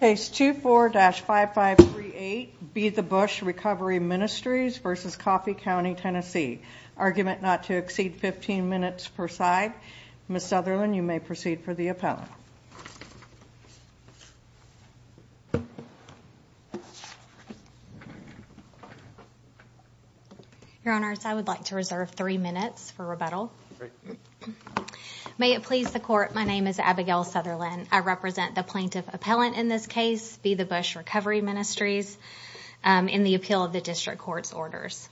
Case 24-5538, Be the Bush Recovery Ministries v. Coffee County TN Argument not to exceed 15 minutes per side. Ms. Southerland, you may proceed for the appellant. Your Honors, I would like to reserve three minutes for rebuttal. Great. May it please the Court, my name is Abigail Southerland. I represent the plaintiff appellant in this case, Be the Bush Recovery Ministries, in the appeal of the District Court's orders.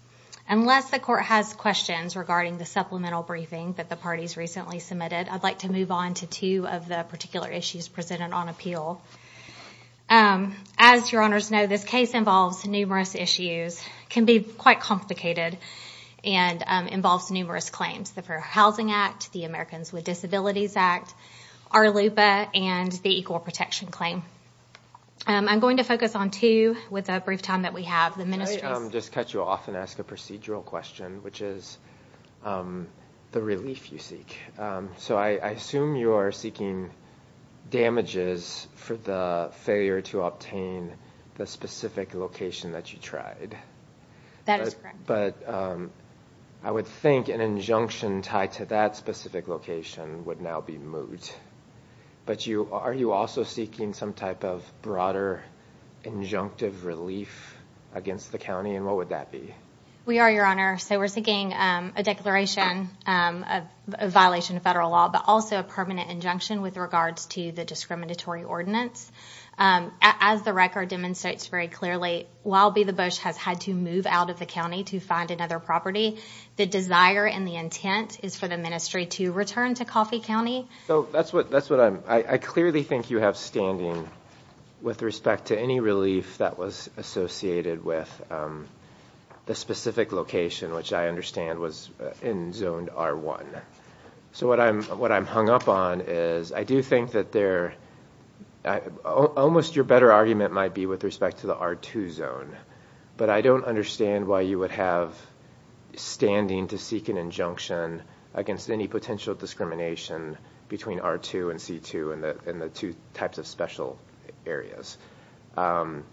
Unless the Court has questions regarding the supplemental briefing that the parties recently submitted, I'd like to move on to two of the particular issues presented on appeal. As Your Honors know, this case involves numerous issues, can be quite complicated, and involves numerous claims, the Fair Housing Act, the Americans with Disabilities Act, RLUPA, and the Equal Protection Claim. I'm going to focus on two with the brief time that we have. Just to cut you off and ask a procedural question, which is the relief you seek. So I assume you are seeking damages for the failure to obtain the specific location that you tried. That is correct. But I would think an injunction tied to that specific location would now be moved. But are you also seeking some type of broader injunctive relief against the county, and what would that be? We are, Your Honor. So we're seeking a declaration of violation of federal law, but also a permanent injunction with regards to the discriminatory ordinance. As the record demonstrates very clearly, while Be the Bush has had to move out of the county to find another property, the desire and the intent is for the ministry to return to Coffey County. I clearly think you have standing with respect to any relief that was associated with the specific location, which I understand was in Zone R1. So what I'm hung up on is I do think that almost your better argument might be with respect to the R2 zone, but I don't understand why you would have standing to seek an injunction against any potential discrimination between R2 and C2 and the two types of special areas. And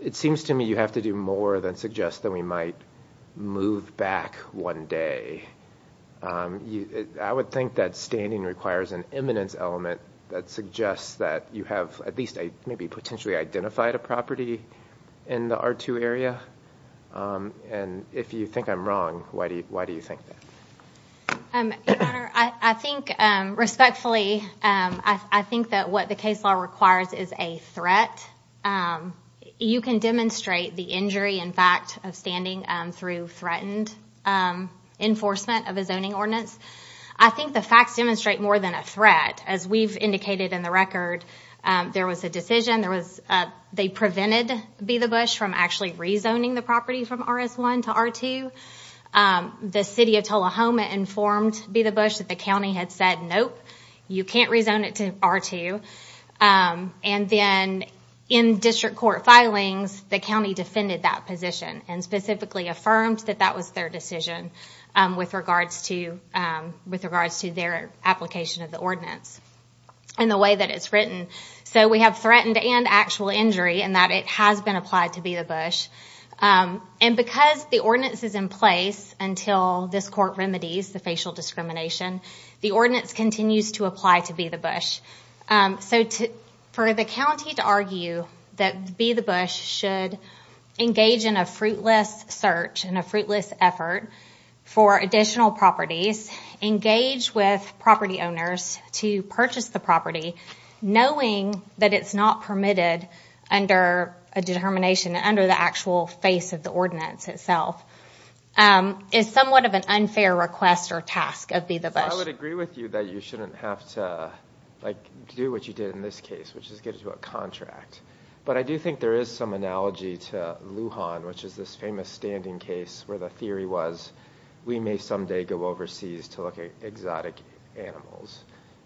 it seems to me you have to do more than suggest that we might move back one day. I would think that standing requires an eminence element that suggests that you have at least maybe potentially identified a property in the R2 area. And if you think I'm wrong, why do you think that? Your Honor, I think respectfully, I think that what the case law requires is a threat. You can demonstrate the injury in fact of standing through threatened enforcement of a zoning ordinance. I think the facts demonstrate more than a threat. As we've indicated in the record, there was a decision, they prevented Be the Bush from actually rezoning the property from RS1 to R2. The city of Tullahoma informed Be the Bush that the county had said, nope, you can't rezone it to R2. And then in district court filings, the county defended that position and specifically affirmed that that was their decision with regards to their application of the ordinance in the way that it's written. So we have threatened and actual injury in that it has been applied to Be the Bush. And because the ordinance is in place until this court remedies the facial discrimination, the ordinance continues to apply to Be the Bush. So for the county to argue that Be the Bush should engage in a fruitless search and a fruitless effort for additional properties, engage with property owners to purchase the property, knowing that it's not permitted under a determination, under the actual face of the ordinance itself, is somewhat of an unfair request or task of Be the Bush. I would agree with you that you shouldn't have to do what you did in this case, which is get into a contract. But I do think there is some analogy to Lujan, which is this famous standing case where the theory was, we may someday go overseas to look at exotic animals.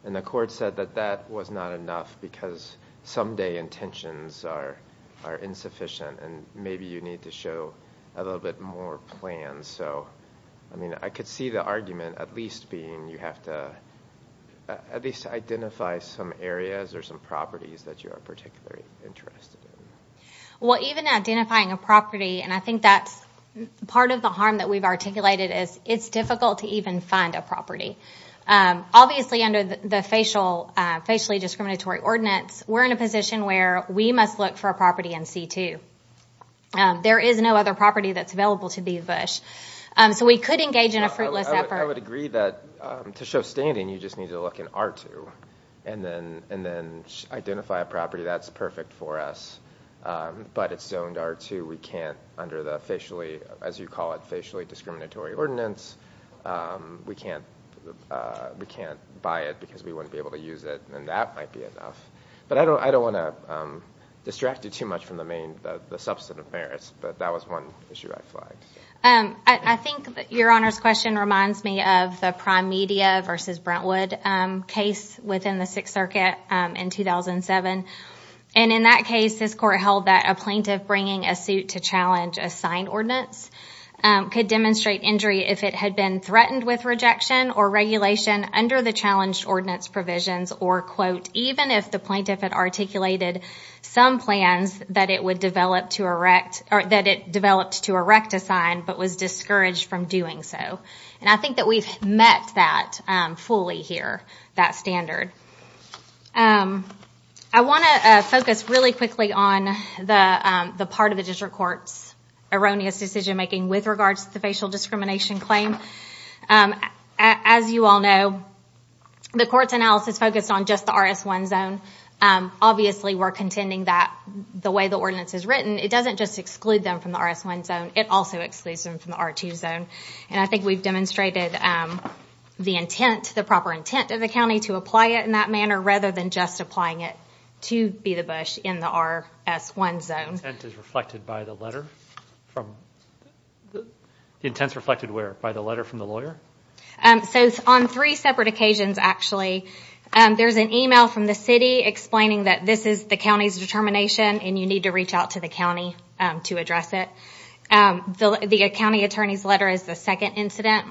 And the court said that that was not enough because someday intentions are insufficient and maybe you need to show a little bit more plan. So I could see the argument at least being you have to at least identify some areas or some properties that you are particularly interested in. Well, even identifying a property, and I think that's part of the harm that we've articulated, is it's difficult to even find a property. Obviously under the facially discriminatory ordinance, we're in a position where we must look for a property in C-2. There is no other property that's available to Be the Bush. So we could engage in a fruitless effort. I would agree that to show standing you just need to look in R-2 and then identify a property that's perfect for us. But it's zoned R-2. We can't under the, as you call it, facially discriminatory ordinance. We can't buy it because we wouldn't be able to use it, and that might be enough. But I don't want to distract you too much from the substantive merits, but that was one issue I flagged. I think your Honor's question reminds me of the Prime Media v. Brentwood case within the Sixth Circuit in 2007. And in that case this court held that a plaintiff bringing a suit to challenge a signed ordinance could demonstrate injury if it had been threatened with rejection or regulation under the challenged ordinance provisions or, quote, even if the plaintiff had articulated some plans that it developed to erect a sign but was discouraged from doing so. And I think that we've met that fully here, that standard. I want to focus really quickly on the part of the district court's erroneous decision-making with regards to the facial discrimination claim. As you all know, the court's analysis focused on just the R-S-1 zone. Obviously we're contending that the way the ordinance is written, it doesn't just exclude them from the R-S-1 zone, it also excludes them from the R-2 zone. And I think we've demonstrated the intent, the proper intent of the county to apply it in that manner rather than just applying it to be the bush in the R-S-1 zone. The intent is reflected by the letter from the lawyer? So it's on three separate occasions, actually. There's an email from the city explaining that this is the county's determination and you need to reach out to the county to address it. The county attorney's letter is the second incident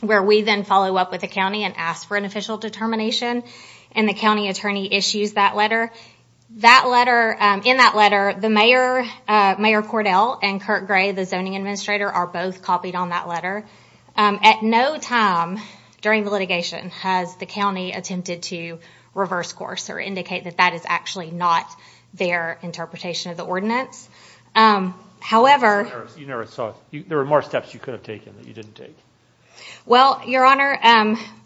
where we then follow up with the county and ask for an official determination and the county attorney issues that letter. In that letter, Mayor Cordell and Kurt Gray, the zoning administrator, are both copied on that letter. At no time during the litigation has the county attempted to reverse course or indicate that that is actually not their interpretation of the ordinance. However... You never saw it. There were more steps you could have taken that you didn't take. Well, Your Honor...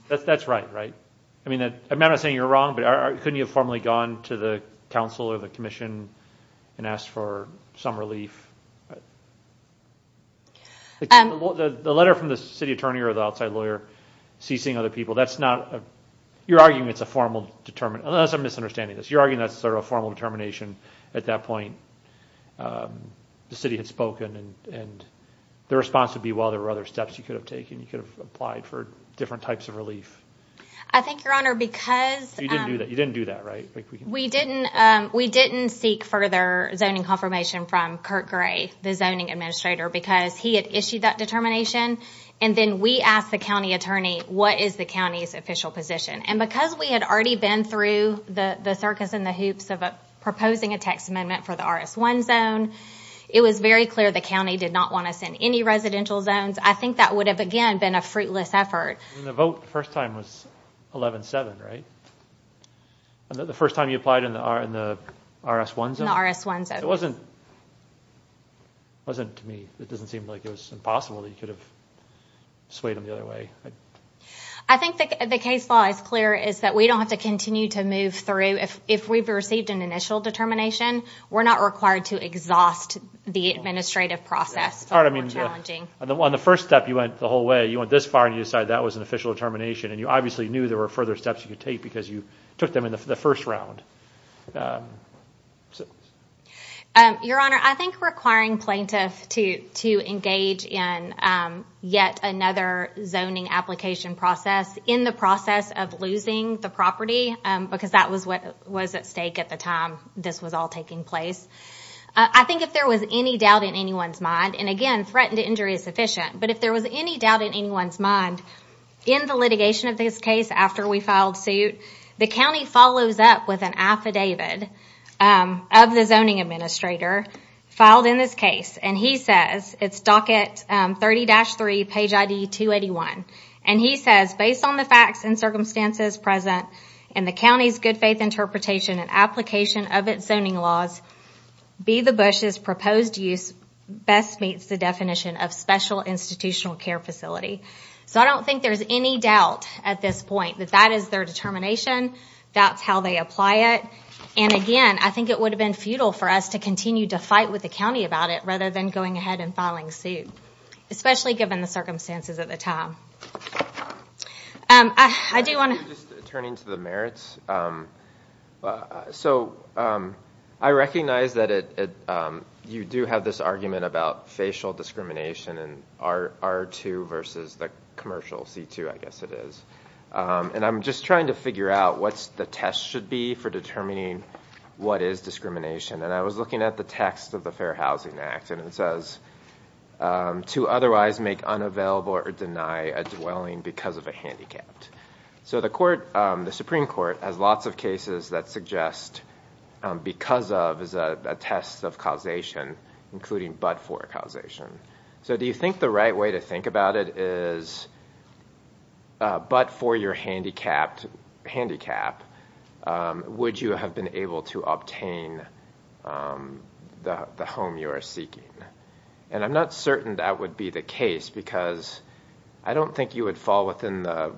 That's right, right? I mean, I'm not saying you're wrong, but couldn't you have formally gone to the council or the commission and asked for some relief? The letter from the city attorney or the outside lawyer ceasing other people, that's not a... You're arguing it's a formal determination. That's a misunderstanding. You're arguing that's sort of a formal determination. At that point, the city had spoken and the response would be, well, there were other steps you could have taken. You could have applied for different types of relief. I think, Your Honor, because... You didn't do that, right? We didn't seek further zoning confirmation from Kurt Gray, the zoning administrator, because he had issued that determination and then we asked the county attorney, what is the county's official position? And because we had already been through the circus and the hoops of proposing a text amendment for the RS-1 zone, it was very clear the county did not want to send any residential zones. I think that would have, again, been a fruitless effort. The vote the first time was 11-7, right? The first time you applied in the RS-1 zone? In the RS-1 zone. It wasn't, to me, it doesn't seem like it was impossible that you could have swayed them the other way. I think the case law is clear, is that we don't have to continue to move through. If we've received an initial determination, we're not required to exhaust the administrative process. On the first step, you went the whole way. You went this far and you decided that was an official determination and you obviously knew there were further steps you could take because you took them in the first round. Your Honor, I think requiring plaintiffs to engage in yet another zoning application process in the process of losing the property, because that was at stake at the time this was all taking place. I think if there was any doubt in anyone's mind, and again, threatened injury is sufficient, but if there was any doubt in anyone's mind in the litigation of this case after we filed suit, the county follows up with an affidavit of the zoning administrator filed in this case and he says, it's docket 30-3, page ID 281, and he says, based on the facts and circumstances present in the county's good faith interpretation and application of its zoning laws, Be the Bush's proposed use best meets the definition of special institutional care facility. So I don't think there's any doubt at this point that that is their determination, that's how they apply it, and again, I think it would have been futile for us to continue to fight with the county about it rather than going ahead and filing suit, especially given the circumstances at the time. I do want to... Just turning to the merits, so I recognize that you do have this argument about facial discrimination in R2 versus the commercial C2, I guess it is, and I'm just trying to figure out what the test should be for determining what is discrimination, and I was looking at the text of the Fair Housing Act and it says, to otherwise make unavailable or deny a dwelling because of a handicapped. So the Supreme Court has lots of cases that suggest because of is a test of causation, including but for causation. So do you think the right way to think about it is, but for your handicapped, would you have been able to obtain the home you are seeking? And I'm not certain that would be the case because I don't think you would fall within the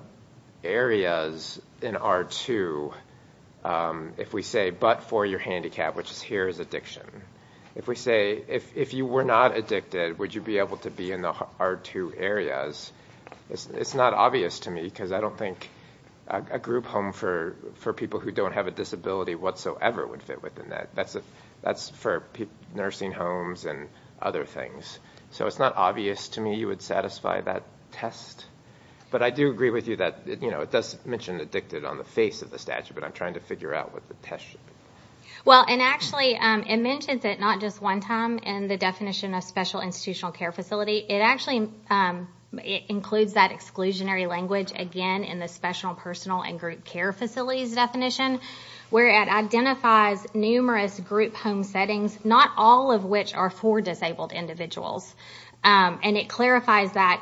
areas in R2 if we say, but for your handicap, which here is addiction. If we say, if you were not addicted, would you be able to be in the R2 areas? It's not obvious to me because I don't think a group home for people who don't have a disability whatsoever would fit within that. That's for nursing homes and other things. So it's not obvious to me you would satisfy that test, but I do agree with you that it does mention addicted on the face of the statute, but I'm trying to figure out what the test should be. Well, and actually it mentions it not just one time in the definition of special institutional care facility. It actually includes that exclusionary language again in the special personal and group care facilities definition where it identifies numerous group home settings, not all of which are for disabled individuals. And it clarifies that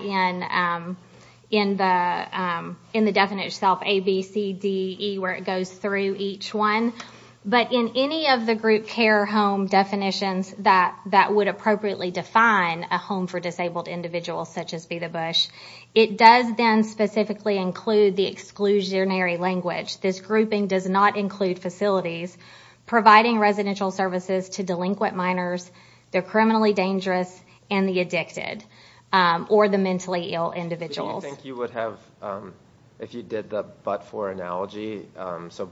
in the definition itself, A, B, C, D, E, where it goes through each one. But in any of the group care home definitions that would appropriately define a home for disabled individuals such as Be the Bush, it does then specifically include the exclusionary language. This grouping does not include facilities, providing residential services to delinquent minors, the criminally dangerous, and the addicted, or the mentally ill individuals. Do you think you would have, if you did the but-for analogy, so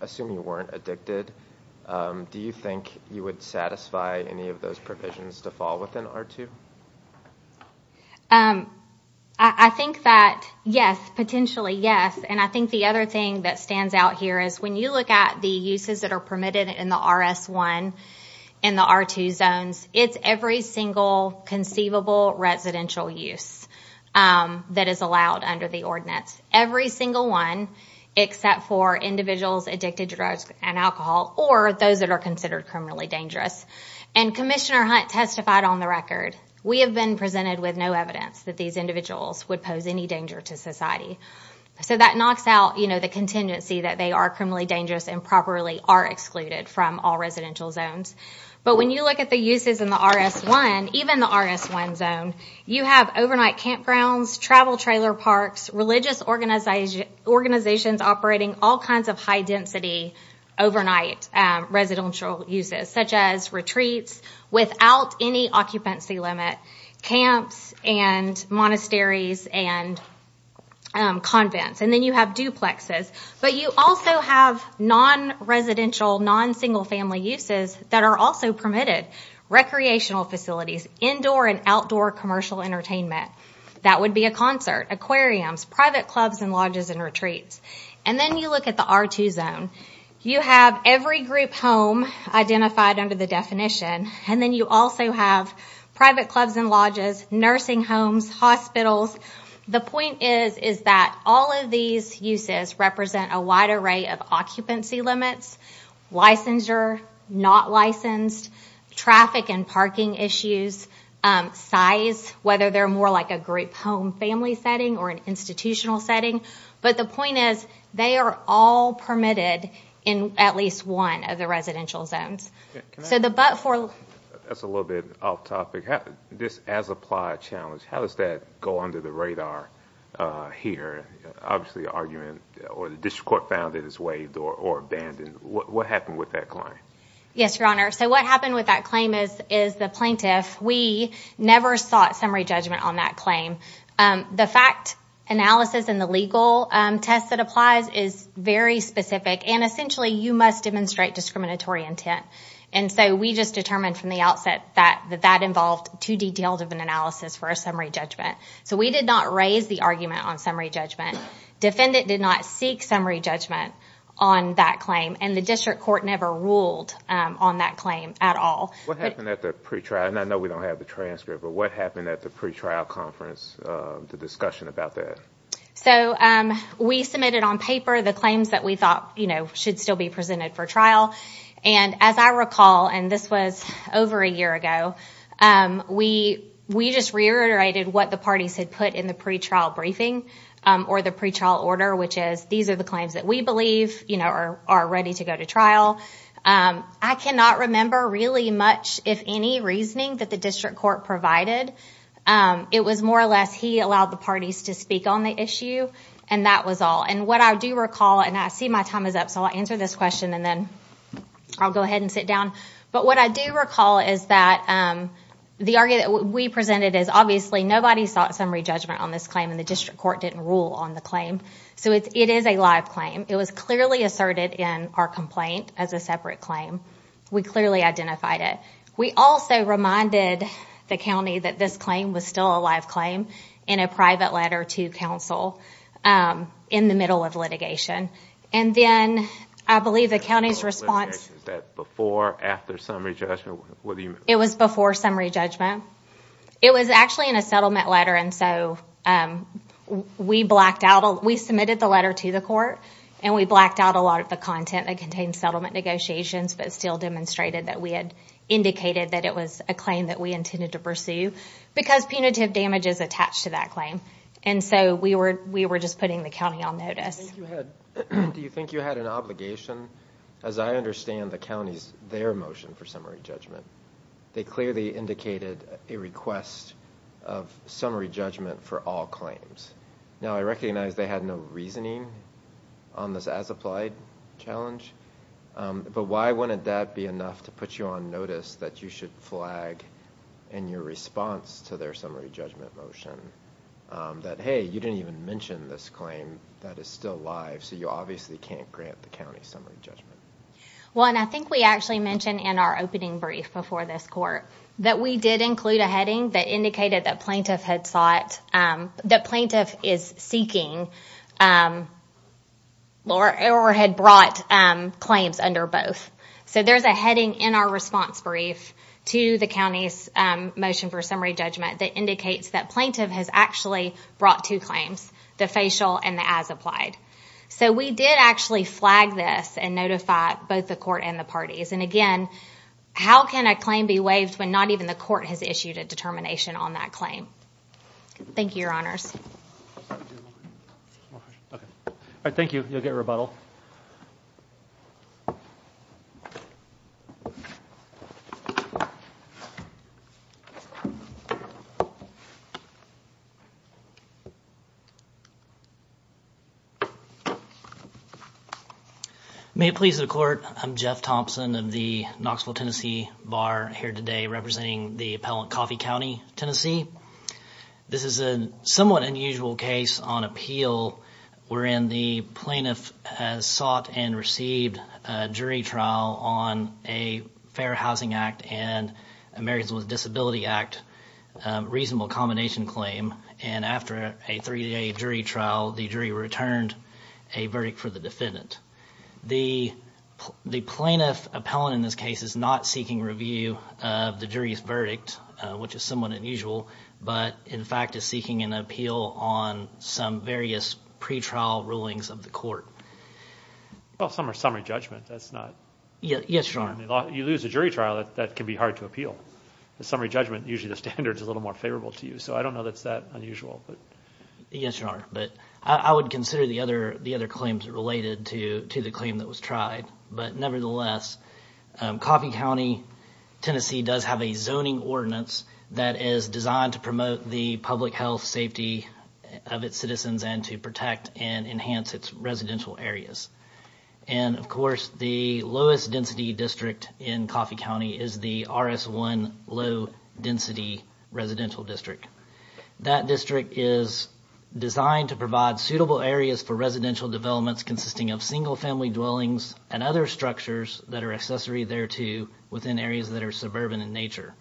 assume you weren't addicted, do you think you would satisfy any of those provisions to fall within R2? I think that yes, potentially yes. And I think the other thing that stands out here is when you look at the uses that are permitted in the RS1 and the R2 zones, it's every single conceivable residential use that is allowed under the ordinance. Every single one, except for individuals addicted to drugs and alcohol or those that are considered criminally dangerous. And Commissioner Hunt testified on the record, we have been presented with no evidence that these individuals would pose any danger to society. So that knocks out the contingency that they are criminally dangerous and properly are excluded from all residential zones. But when you look at the uses in the RS1, even the RS1 zone, you have overnight campgrounds, travel trailer parks, religious organizations operating all kinds of high-density overnight residential uses, such as retreats without any occupancy limit, camps and monasteries and convents. And then you have duplexes. But you also have non-residential, non-single-family uses that are also permitted. Recreational facilities, indoor and outdoor commercial entertainment. That would be a concert, aquariums, private clubs and lodges and retreats. And then you look at the R2 zone. You have every group home identified under the definition. And then you also have private clubs and lodges, nursing homes, hospitals. The point is that all of these uses represent a wide array of occupancy limits, licensure, not licensed, traffic and parking issues, size, whether they're more like a group home family setting or an institutional setting. But the point is they are all permitted in at least one of the residential zones. So the but for... That's a little bit off topic. This as-applied challenge, how does that go under the radar here? Obviously, the argument or the district court found it is waived or abandoned. What happened with that claim? Yes, Your Honor. So what happened with that claim is the plaintiff, we never sought summary judgment on that claim. The fact analysis and the legal test that applies is very specific. And essentially, you must demonstrate discriminatory intent. And so we just determined from the outset that that involved too detailed of an analysis for a summary judgment. So we did not raise the argument on summary judgment. Defendant did not seek summary judgment on that claim. And the district court never ruled on that claim at all. What happened at the pre-trial? And I know we don't have the transcript, but what happened at the pre-trial conference, the discussion about that? So we submitted on paper the claims that we thought should still be presented for trial. And as I recall, and this was over a year ago, we just reiterated what the parties had put in the pre-trial briefing or the pre-trial order, which is these are the claims that we believe are ready to go to trial. I cannot remember really much, if any, reasoning that the district court provided. It was more or less he allowed the parties to speak on the issue, and that was all. And what I do recall, and I see my time is up, so I'll answer this question and then I'll go ahead and sit down, but what I do recall is that the argument that we presented is obviously nobody sought summary judgment on this claim and the district court didn't rule on the claim. So it is a live claim. It was clearly asserted in our complaint as a separate claim. We clearly identified it. We also reminded the county that this claim was still a live claim in a private letter to counsel in the middle of litigation. And then I believe the county's response... Was that before or after summary judgment? It was before summary judgment. It was actually in a settlement letter, and so we blacked out. Well, we submitted the letter to the court, and we blacked out a lot of the content that contained settlement negotiations, but still demonstrated that we had indicated that it was a claim that we intended to pursue because punitive damage is attached to that claim. And so we were just putting the county on notice. Do you think you had an obligation? As I understand the county's, their motion for summary judgment, they clearly indicated a request of summary judgment for all claims. Now, I recognize they had no reasoning on this as-applied challenge, but why wouldn't that be enough to put you on notice that you should flag in your response to their summary judgment motion that, hey, you didn't even mention this claim that is still live, so you obviously can't grant the county summary judgment? Well, and I think we actually mentioned in our opening brief before this court that we did include a heading that indicated that plaintiff had sought... that plaintiff is seeking... or had brought claims under both. So there's a heading in our response brief to the county's motion for summary judgment that indicates that plaintiff has actually brought two claims, the facial and the as-applied. So we did actually flag this and notify both the court and the parties. And again, how can a claim be waived when not even the court has issued a determination on that claim? Thank you, Your Honors. All right, thank you. You'll get rebuttal. May it please the court, I'm Jeff Thompson of the Knoxville, Tennessee, Bar here today representing the appellant of Coffey County, Tennessee. This is a somewhat unusual case on appeal wherein the plaintiff has sought and received a jury trial on a Fair Housing Act and Americans with Disability Act reasonable accommodation claim. And after a three-day jury trial, the jury returned a verdict for the defendant. The plaintiff appellant in this case is not seeking review of the jury's verdict which is somewhat unusual, but in fact is seeking an appeal on some various pretrial rulings of the court. Well, some are summary judgment, that's not... Yes, Your Honor. You lose a jury trial, that can be hard to appeal. The summary judgment, usually the standard is a little more favorable to you. So I don't know that's that unusual. Yes, Your Honor. But I would consider the other claims related to the claim that was tried. But nevertheless, Coffey County, Tennessee does have a zoning ordinance that is designed to promote the public health, safety of its citizens and to protect and enhance its residential areas. And of course, the lowest density district in Coffey County is the RS1 Low Density Residential District. That district is designed to provide suitable areas for residential developments consisting of single-family dwellings and other structures that are accessory thereto within areas that are suburban in nature.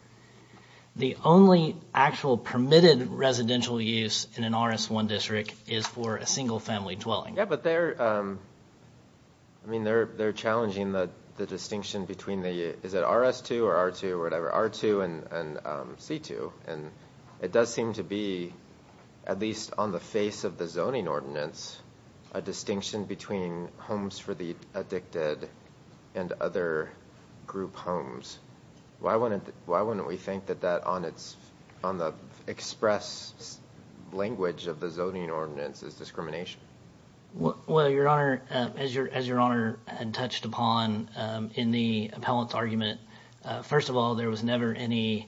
The only actual permitted residential use in an RS1 district is for a single-family dwelling. Yeah, but they're... I mean, they're challenging the distinction between the... Is it RS2 or R2 or whatever? R2 and C2. And it does seem to be, at least on the face of the zoning ordinance, a distinction between homes for the addicted and other group homes. Why wouldn't we think that that, on the express language of the zoning ordinance, is discrimination? Well, Your Honor, as Your Honor touched upon in the appellant's argument, first of all, there was never any...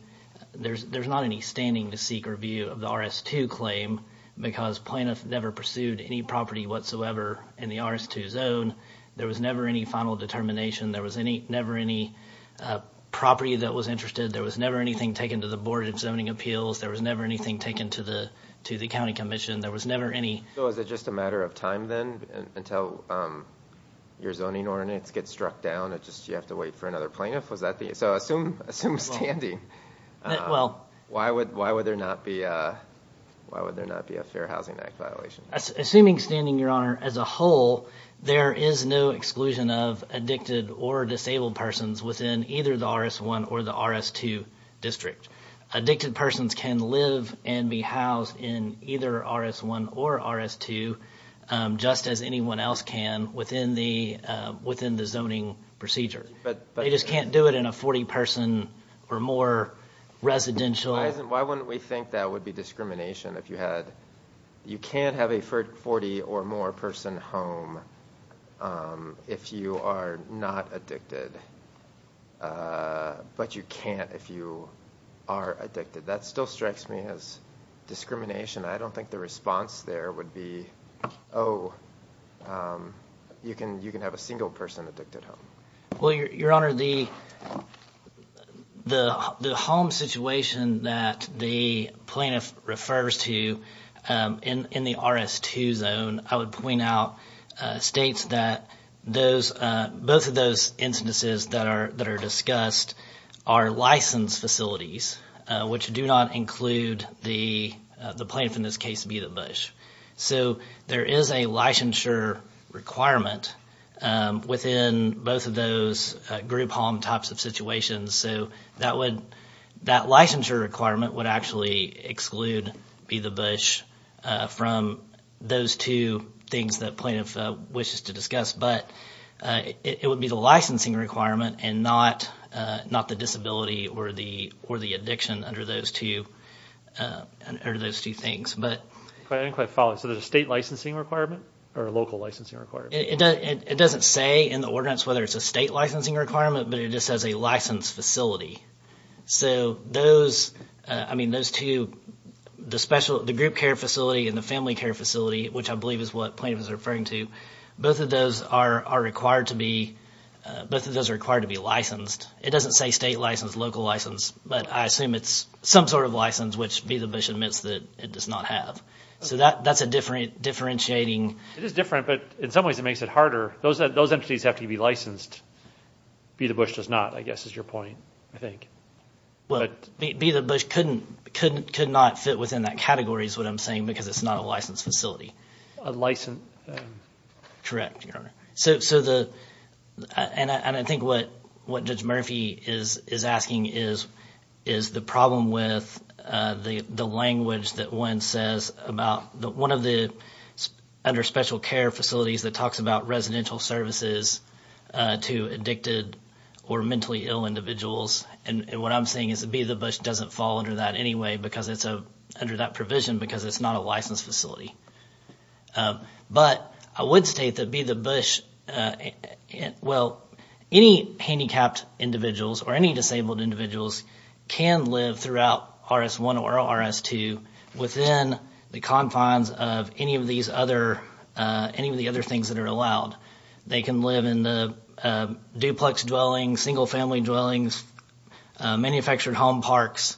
There's not any standing to seek review of the RS2 claim because plaintiffs never pursued any property whatsoever in the RS2 zone. There was never any final determination. There was never any property that was interested. There was never anything taken to the Board of Zoning Appeals. There was never anything taken to the county commission. There was never any... So is it just a matter of time then until your zoning ordinance gets struck down? Do you have to wait for another plaintiff? So assume standing. Well... Why would there not be a Fair Housing Act violation? Assuming standing, Your Honor, as a whole, there is no exclusion of addicted or disabled persons within either the RS1 or the RS2 district. Addicted persons can live and be housed in either RS1 or RS2 just as anyone else can within the zoning procedure. They just can't do it in a 40-person or more residential... Why wouldn't we think that would be discrimination if you had... You can't have a 40- or more-person home if you are not addicted. But you can't if you are addicted. That still strikes me as discrimination. I don't think the response there would be, oh, you can have a single-person addicted home. Well, Your Honor, the home situation that the plaintiff refers to in the RS2 zone, I would point out states that both of those instances that are discussed are licensed facilities which do not include the plaintiff, in this case, Be The Bush. So there is a licensure requirement within both of those group home types of situations. So that licensure requirement would actually exclude Be The Bush from those two things that plaintiff wishes to discuss. But it would be the licensing requirement and not the disability or the addiction under those two things. I didn't quite follow. So there's a state licensing requirement or a local licensing requirement? It doesn't say in the ordinance whether it's a state licensing requirement, but it just says a licensed facility. So those two, the group care facility and the family care facility, which I believe is what plaintiff is referring to, both of those are required to be licensed. It doesn't say state license, local license, but I assume it's some sort of license, which Be The Bush admits that it does not have. So that's a differentiating. It is different, but in some ways it makes it harder. Those entities have to be licensed. Be The Bush does not, I guess, is your point, I think. Well, Be The Bush could not fit within that category is what I'm saying because it's not a licensed facility. A licensed? Correct, Your Honor. And I think what Judge Murphy is asking is the problem with the language that one says about one of the under special care facilities that talks about residential services to addicted or mentally ill individuals. And what I'm saying is Be The Bush doesn't fall under that anyway because it's under that provision because it's not a licensed facility. But I would state that Be The Bush, well, any handicapped individuals or any disabled individuals can live throughout RS1 or RS2 within the confines of any of the other things that are allowed. They can live in the duplex dwellings, single family dwellings, manufactured home parks,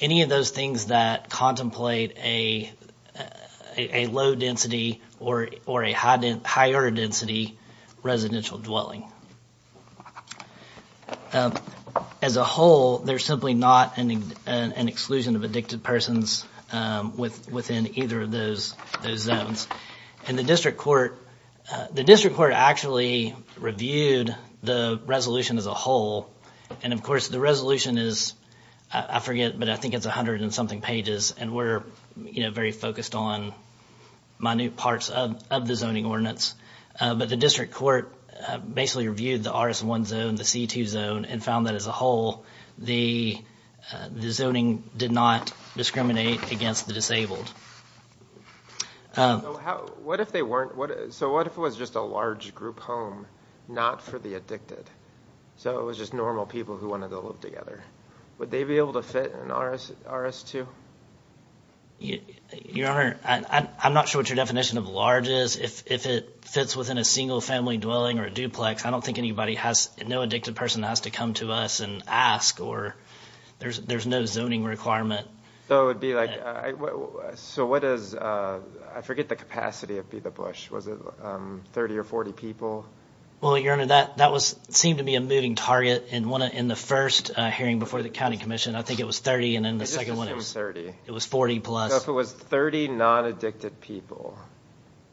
any of those things that contemplate a low density or a higher density residential dwelling. As a whole, there's simply not an exclusion of addicted persons within either of those zones. And the district court actually reviewed the resolution as a whole. And, of course, the resolution is, I forget, but I think it's 100 and something pages and we're very focused on minute parts of the zoning ordinance. But the district court basically reviewed the RS1 zone, the C2 zone, and found that as a whole the zoning did not discriminate against the disabled. So what if it was just a large group home, not for the addicted? So it was just normal people who wanted to live together. Would they be able to fit in an RS2? Your Honor, I'm not sure what your definition of large is. If it fits within a single family dwelling or a duplex, I don't think no addicted person has to come to us and ask, or there's no zoning requirement. So it would be like, so what is, I forget the capacity of Be the Bush. Was it 30 or 40 people? Well, Your Honor, that seemed to be a moving target in the first hearing before the county commission. I think it was 30, and in the second one it was 40-plus. So if it was 30 non-addicted people,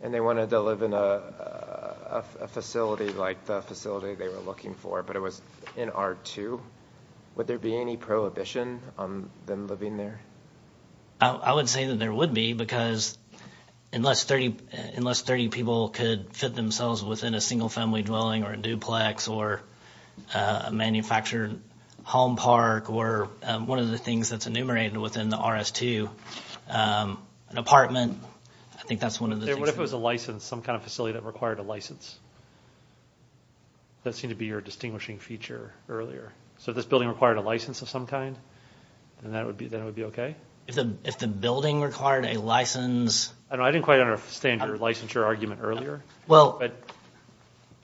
and they wanted to live in a facility like the facility they were looking for, but it was in R2, would there be any prohibition on them living there? I would say that there would be, because unless 30 people could fit themselves within a single family dwelling or a duplex or a manufactured home park or one of the things that's enumerated within the RS2, an apartment, I think that's one of the things. What if it was a license, some kind of facility that required a license? That seemed to be your distinguishing feature earlier. So if this building required a license of some kind, then it would be okay? If the building required a license? I didn't quite understand your licensure argument earlier.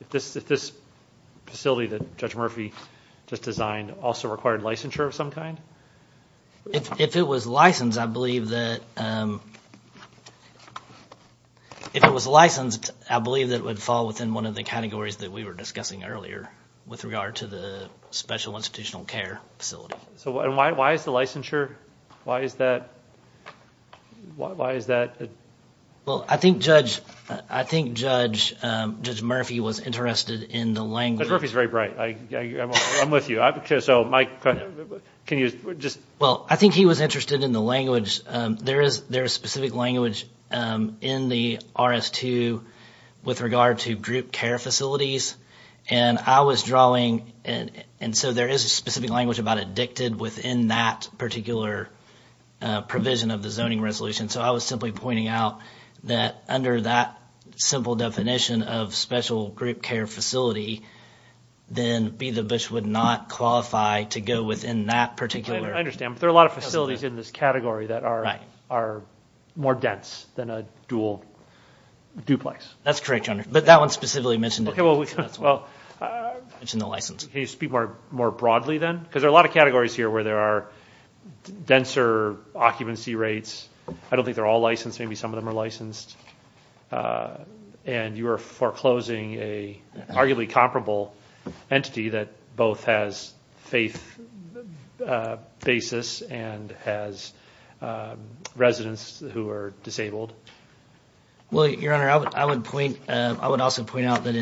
If this facility that Judge Murphy just designed also required licensure of some kind? If it was licensed, I believe that it would fall within one of the categories that we were discussing earlier with regard to the special institutional care facility. And why is the licensure, why is that? Well, I think Judge Murphy was interested in the language. Judge Murphy is very bright. I'm with you. Well, I think he was interested in the language. There is specific language in the RS2 with regard to group care facilities. And I was drawing, and so there is a specific language about it dictated within that particular provision of the zoning resolution. So I was simply pointing out that under that simple definition of special group care facility, then Be The Bush would not qualify to go within that particular. I understand. But there are a lot of facilities in this category that are more dense than a dual duplex. That's correct, Your Honor. But that one specifically mentioned it. Can you speak more broadly then? Because there are a lot of categories here where there are denser occupancy rates. I don't think they're all licensed. Maybe some of them are licensed. And you are foreclosing an arguably comparable entity that both has faith basis and has residents who are disabled. Well, Your Honor, I would also point out that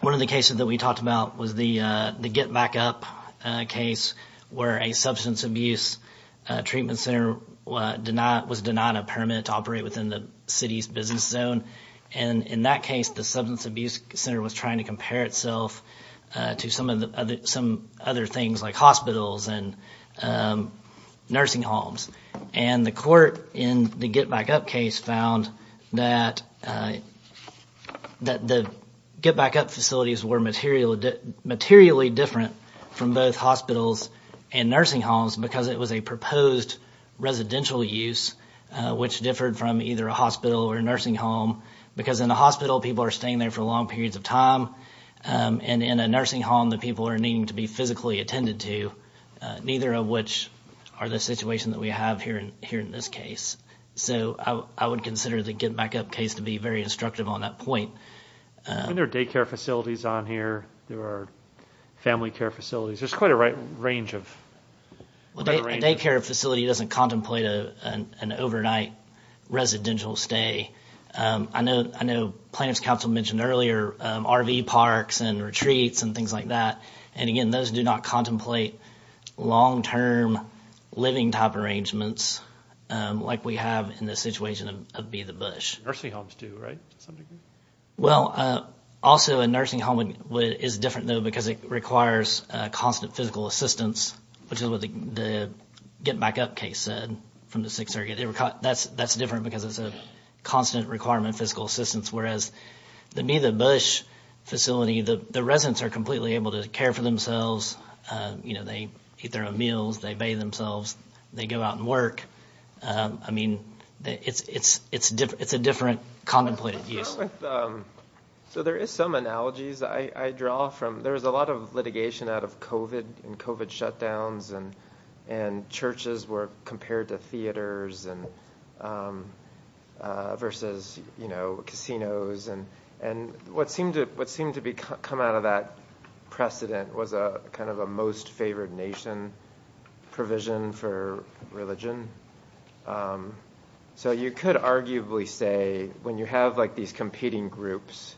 one of the cases that we talked about was the get back up case where a substance abuse treatment center was denied a permit to operate within the city's business zone. And in that case, the substance abuse center was trying to compare itself to some other things like hospitals and nursing homes. And the court in the get back up case found that the get back up facilities were materially different from both hospitals and nursing homes because it was a proposed residential use, which differed from either a hospital or a nursing home. Because in a hospital, people are staying there for long periods of time. And in a nursing home, the people are needing to be physically attended to, neither of which are the situation that we have here in this case. So I would consider the get back up case to be very instructive on that point. And there are daycare facilities on here. There are family care facilities. There's quite a range of… Well, a daycare facility doesn't contemplate an overnight residential stay. I know plaintiff's counsel mentioned earlier RV parks and retreats and things like that. And again, those do not contemplate long-term living type arrangements like we have in the situation of Be the Bush. Nursing homes do, right, to some degree? Well, also a nursing home is different, though, because it requires constant physical assistance, which is what the get back up case said from the Sixth Circuit. That's different because it's a constant requirement of physical assistance, whereas the Be the Bush facility, the residents are completely able to care for themselves. They eat their own meals. They bathe themselves. They go out and work. I mean, it's a different contemplated use. So there is some analogies I draw from. There was a lot of litigation out of COVID and COVID shutdowns, and churches were compared to theaters versus casinos. And what seemed to come out of that precedent was kind of a most favored nation provision for religion. So you could arguably say when you have these competing groups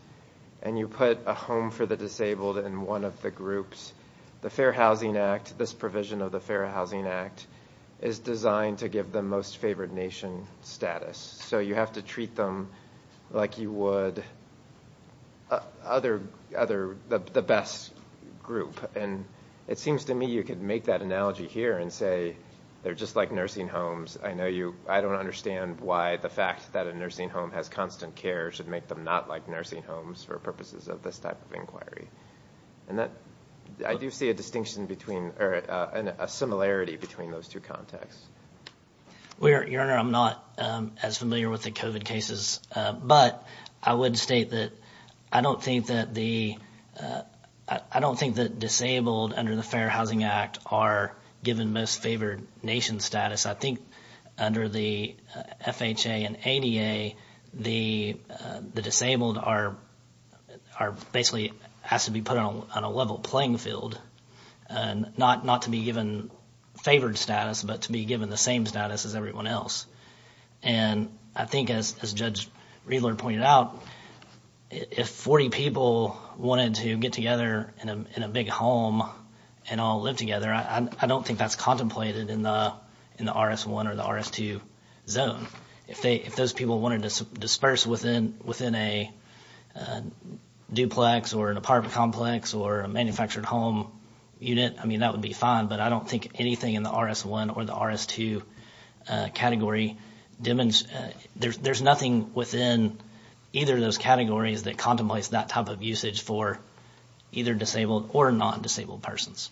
and you put a home for the disabled in one of the groups, the Fair Housing Act, this provision of the Fair Housing Act, is designed to give them most favored nation status. So you have to treat them like you would the best group. And it seems to me you could make that analogy here and say they're just like nursing homes. I don't understand why the fact that a nursing home has constant care should make them not like nursing homes for purposes of this type of inquiry. I do see a similarity between those two contexts. Your Honor, I'm not as familiar with the COVID cases, but I would state that I don't think that disabled under the Fair Housing Act are given most favored nation status. I think under the FHA and ADA, the disabled basically has to be put on a level playing field, not to be given favored status, but to be given the same status as everyone else. And I think as Judge Riedler pointed out, if 40 people wanted to get together in a big home and all live together, I don't think that's contemplated in the RS1 or the RS2 zone. If those people wanted to disperse within a duplex or an apartment complex or a manufactured home unit, I mean, that would be fine, but I don't think anything in the RS1 or the RS2 category. There's nothing within either of those categories that contemplates that type of usage for either disabled or non-disabled persons.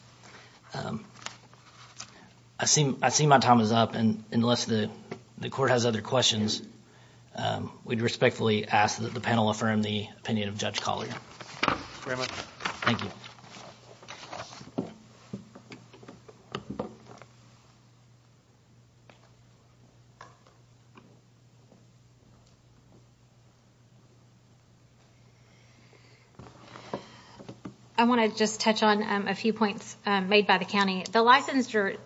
I see my time is up, and unless the court has other questions, we'd respectfully ask that the panel affirm the opinion of Judge Collier. Thank you very much. Thank you. Thank you. I want to just touch on a few points made by the county. The licensure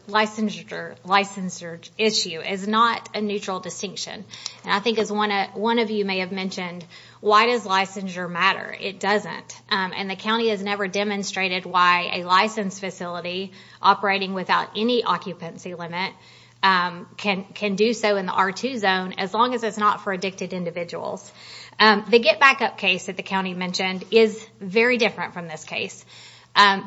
issue is not a neutral distinction. And I think as one of you may have mentioned, why does licensure matter? It doesn't. And the county has never demonstrated why a licensed facility operating without any occupancy limit can do so in the R2 zone, as long as it's not for addicted individuals. The get back up case that the county mentioned is very different from this case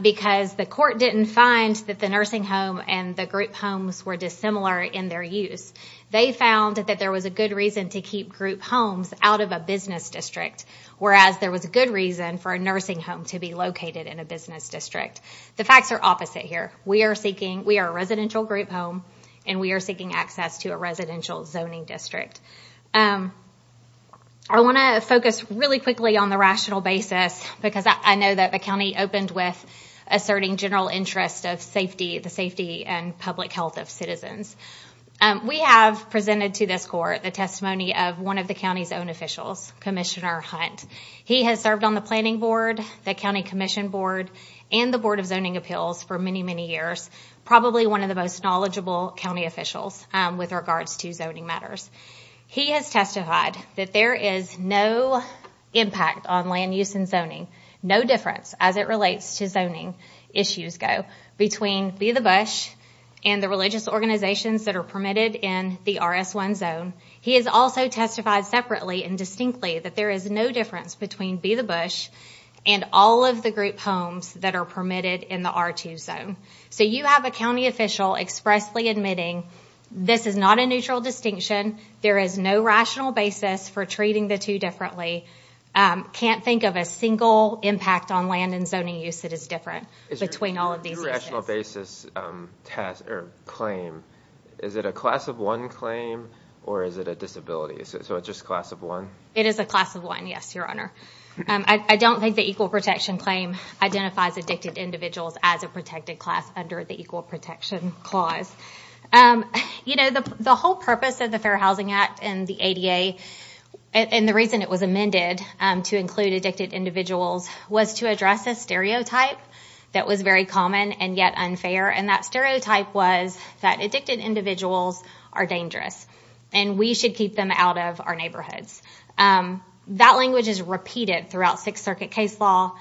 because the court didn't find that the nursing home and the group homes were dissimilar in their use. They found that there was a good reason to keep group homes out of a business district, whereas there was a good reason for a nursing home to be located in a business district. The facts are opposite here. We are a residential group home, and we are seeking access to a residential zoning district. I want to focus really quickly on the rational basis, because I know that the county opened with asserting general interest of the safety and public health of citizens. We have presented to this court the testimony of one of the county's own officials, Commissioner Hunt. He has served on the planning board, the county commission board, and the board of zoning appeals for many, many years, probably one of the most knowledgeable county officials with regards to zoning matters. He has testified that there is no impact on land use and zoning, no difference as it relates to zoning issues between Be the Bush and the religious organizations that are permitted in the RS1 zone. He has also testified separately and distinctly that there is no difference between Be the Bush and all of the group homes that are permitted in the R2 zone. So you have a county official expressly admitting this is not a neutral distinction. There is no rational basis for treating the two differently. I can't think of a single impact on land and zoning use that is different between all of these issues. Is it a class of one claim or is it a disability? It is a class of one, yes, your honor. I don't think the equal protection claim identifies addicted individuals as a protected class under the equal protection clause. The whole purpose of the Fair Housing Act and the ADA and the reason it was amended to include addicted individuals was to address a stereotype that was very common and yet unfair. That stereotype was that addicted individuals are dangerous and we should keep them out of our neighborhoods. That language is repeated throughout Sixth Circuit case law,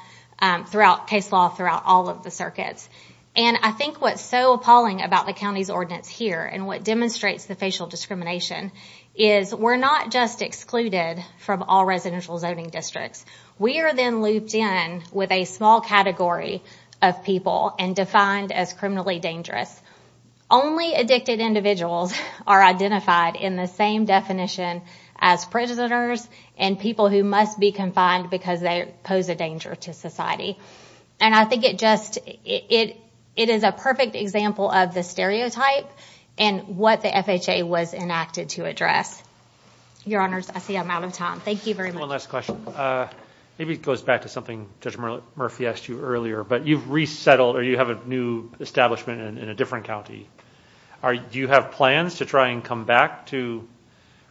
throughout case law, throughout all of the circuits. I think what is so appalling about the county's ordinance here and what demonstrates the facial discrimination is we are not just excluded from all residential zoning districts. We are then looped in with a small category of people and defined as criminally dangerous. Only addicted individuals are identified in the same definition as prisoners and people who must be confined because they pose a danger to society. I think it is a perfect example of the stereotype and what the FHA was enacted to address. Your honors, I see I'm out of time. Thank you very much. One last question. Maybe it goes back to something Judge Murphy asked you earlier, but you've resettled or you have a new establishment in a different county. Do you have plans to try and come back to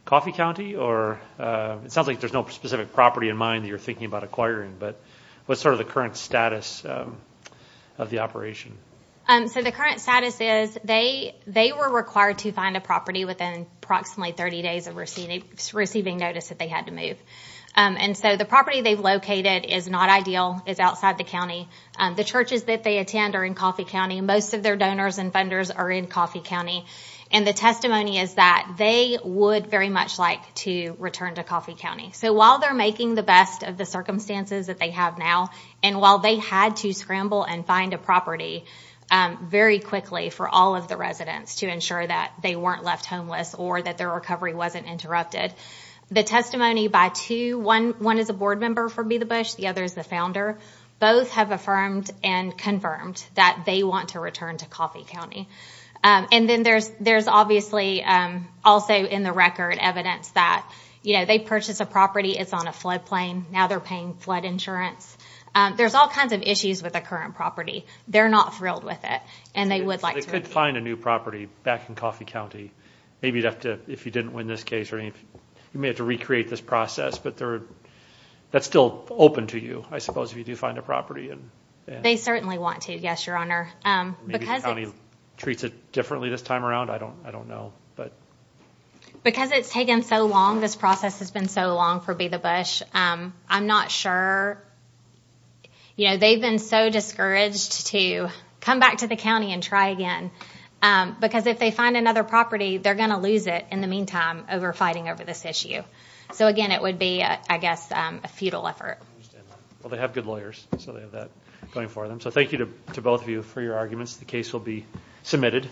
Coffee County? It sounds like there's no specific property in mind that you're thinking about acquiring, but what's the current status of the operation? The current status is they were required to find a property within approximately 30 days of receiving notice that they had to move. The property they've located is not ideal. It's outside the county. The churches that they attend are in Coffee County. Most of their donors and funders are in Coffee County. The testimony is that they would very much like to return to Coffee County. While they're making the best of the circumstances that they have now, and while they had to scramble and find a property very quickly for all of the residents to ensure that they weren't left homeless or that their recovery wasn't interrupted, the testimony by two, one is a board member for Be The Bush, the other is the founder, both have affirmed and confirmed that they want to return to Coffee County. Then there's obviously also in the record evidence that they purchased a property. It's on a floodplain. Now they're paying flood insurance. There's all kinds of issues with the current property. They're not thrilled with it, and they would like to repeat it. They could find a new property back in Coffee County. Maybe you'd have to, if you didn't win this case, you may have to recreate this process, but that's still open to you, I suppose, if you do find a property. They certainly want to, yes, Your Honor. Maybe the county treats it differently this time around. I don't know. Because it's taken so long, this process has been so long for Be The Bush, I'm not sure. They've been so discouraged to come back to the county and try again because if they find another property, they're going to lose it in the meantime over fighting over this issue. So again, it would be, I guess, a futile effort. Well, they have good lawyers, so they have that going for them. So thank you to both of you for your arguments. The case will be submitted.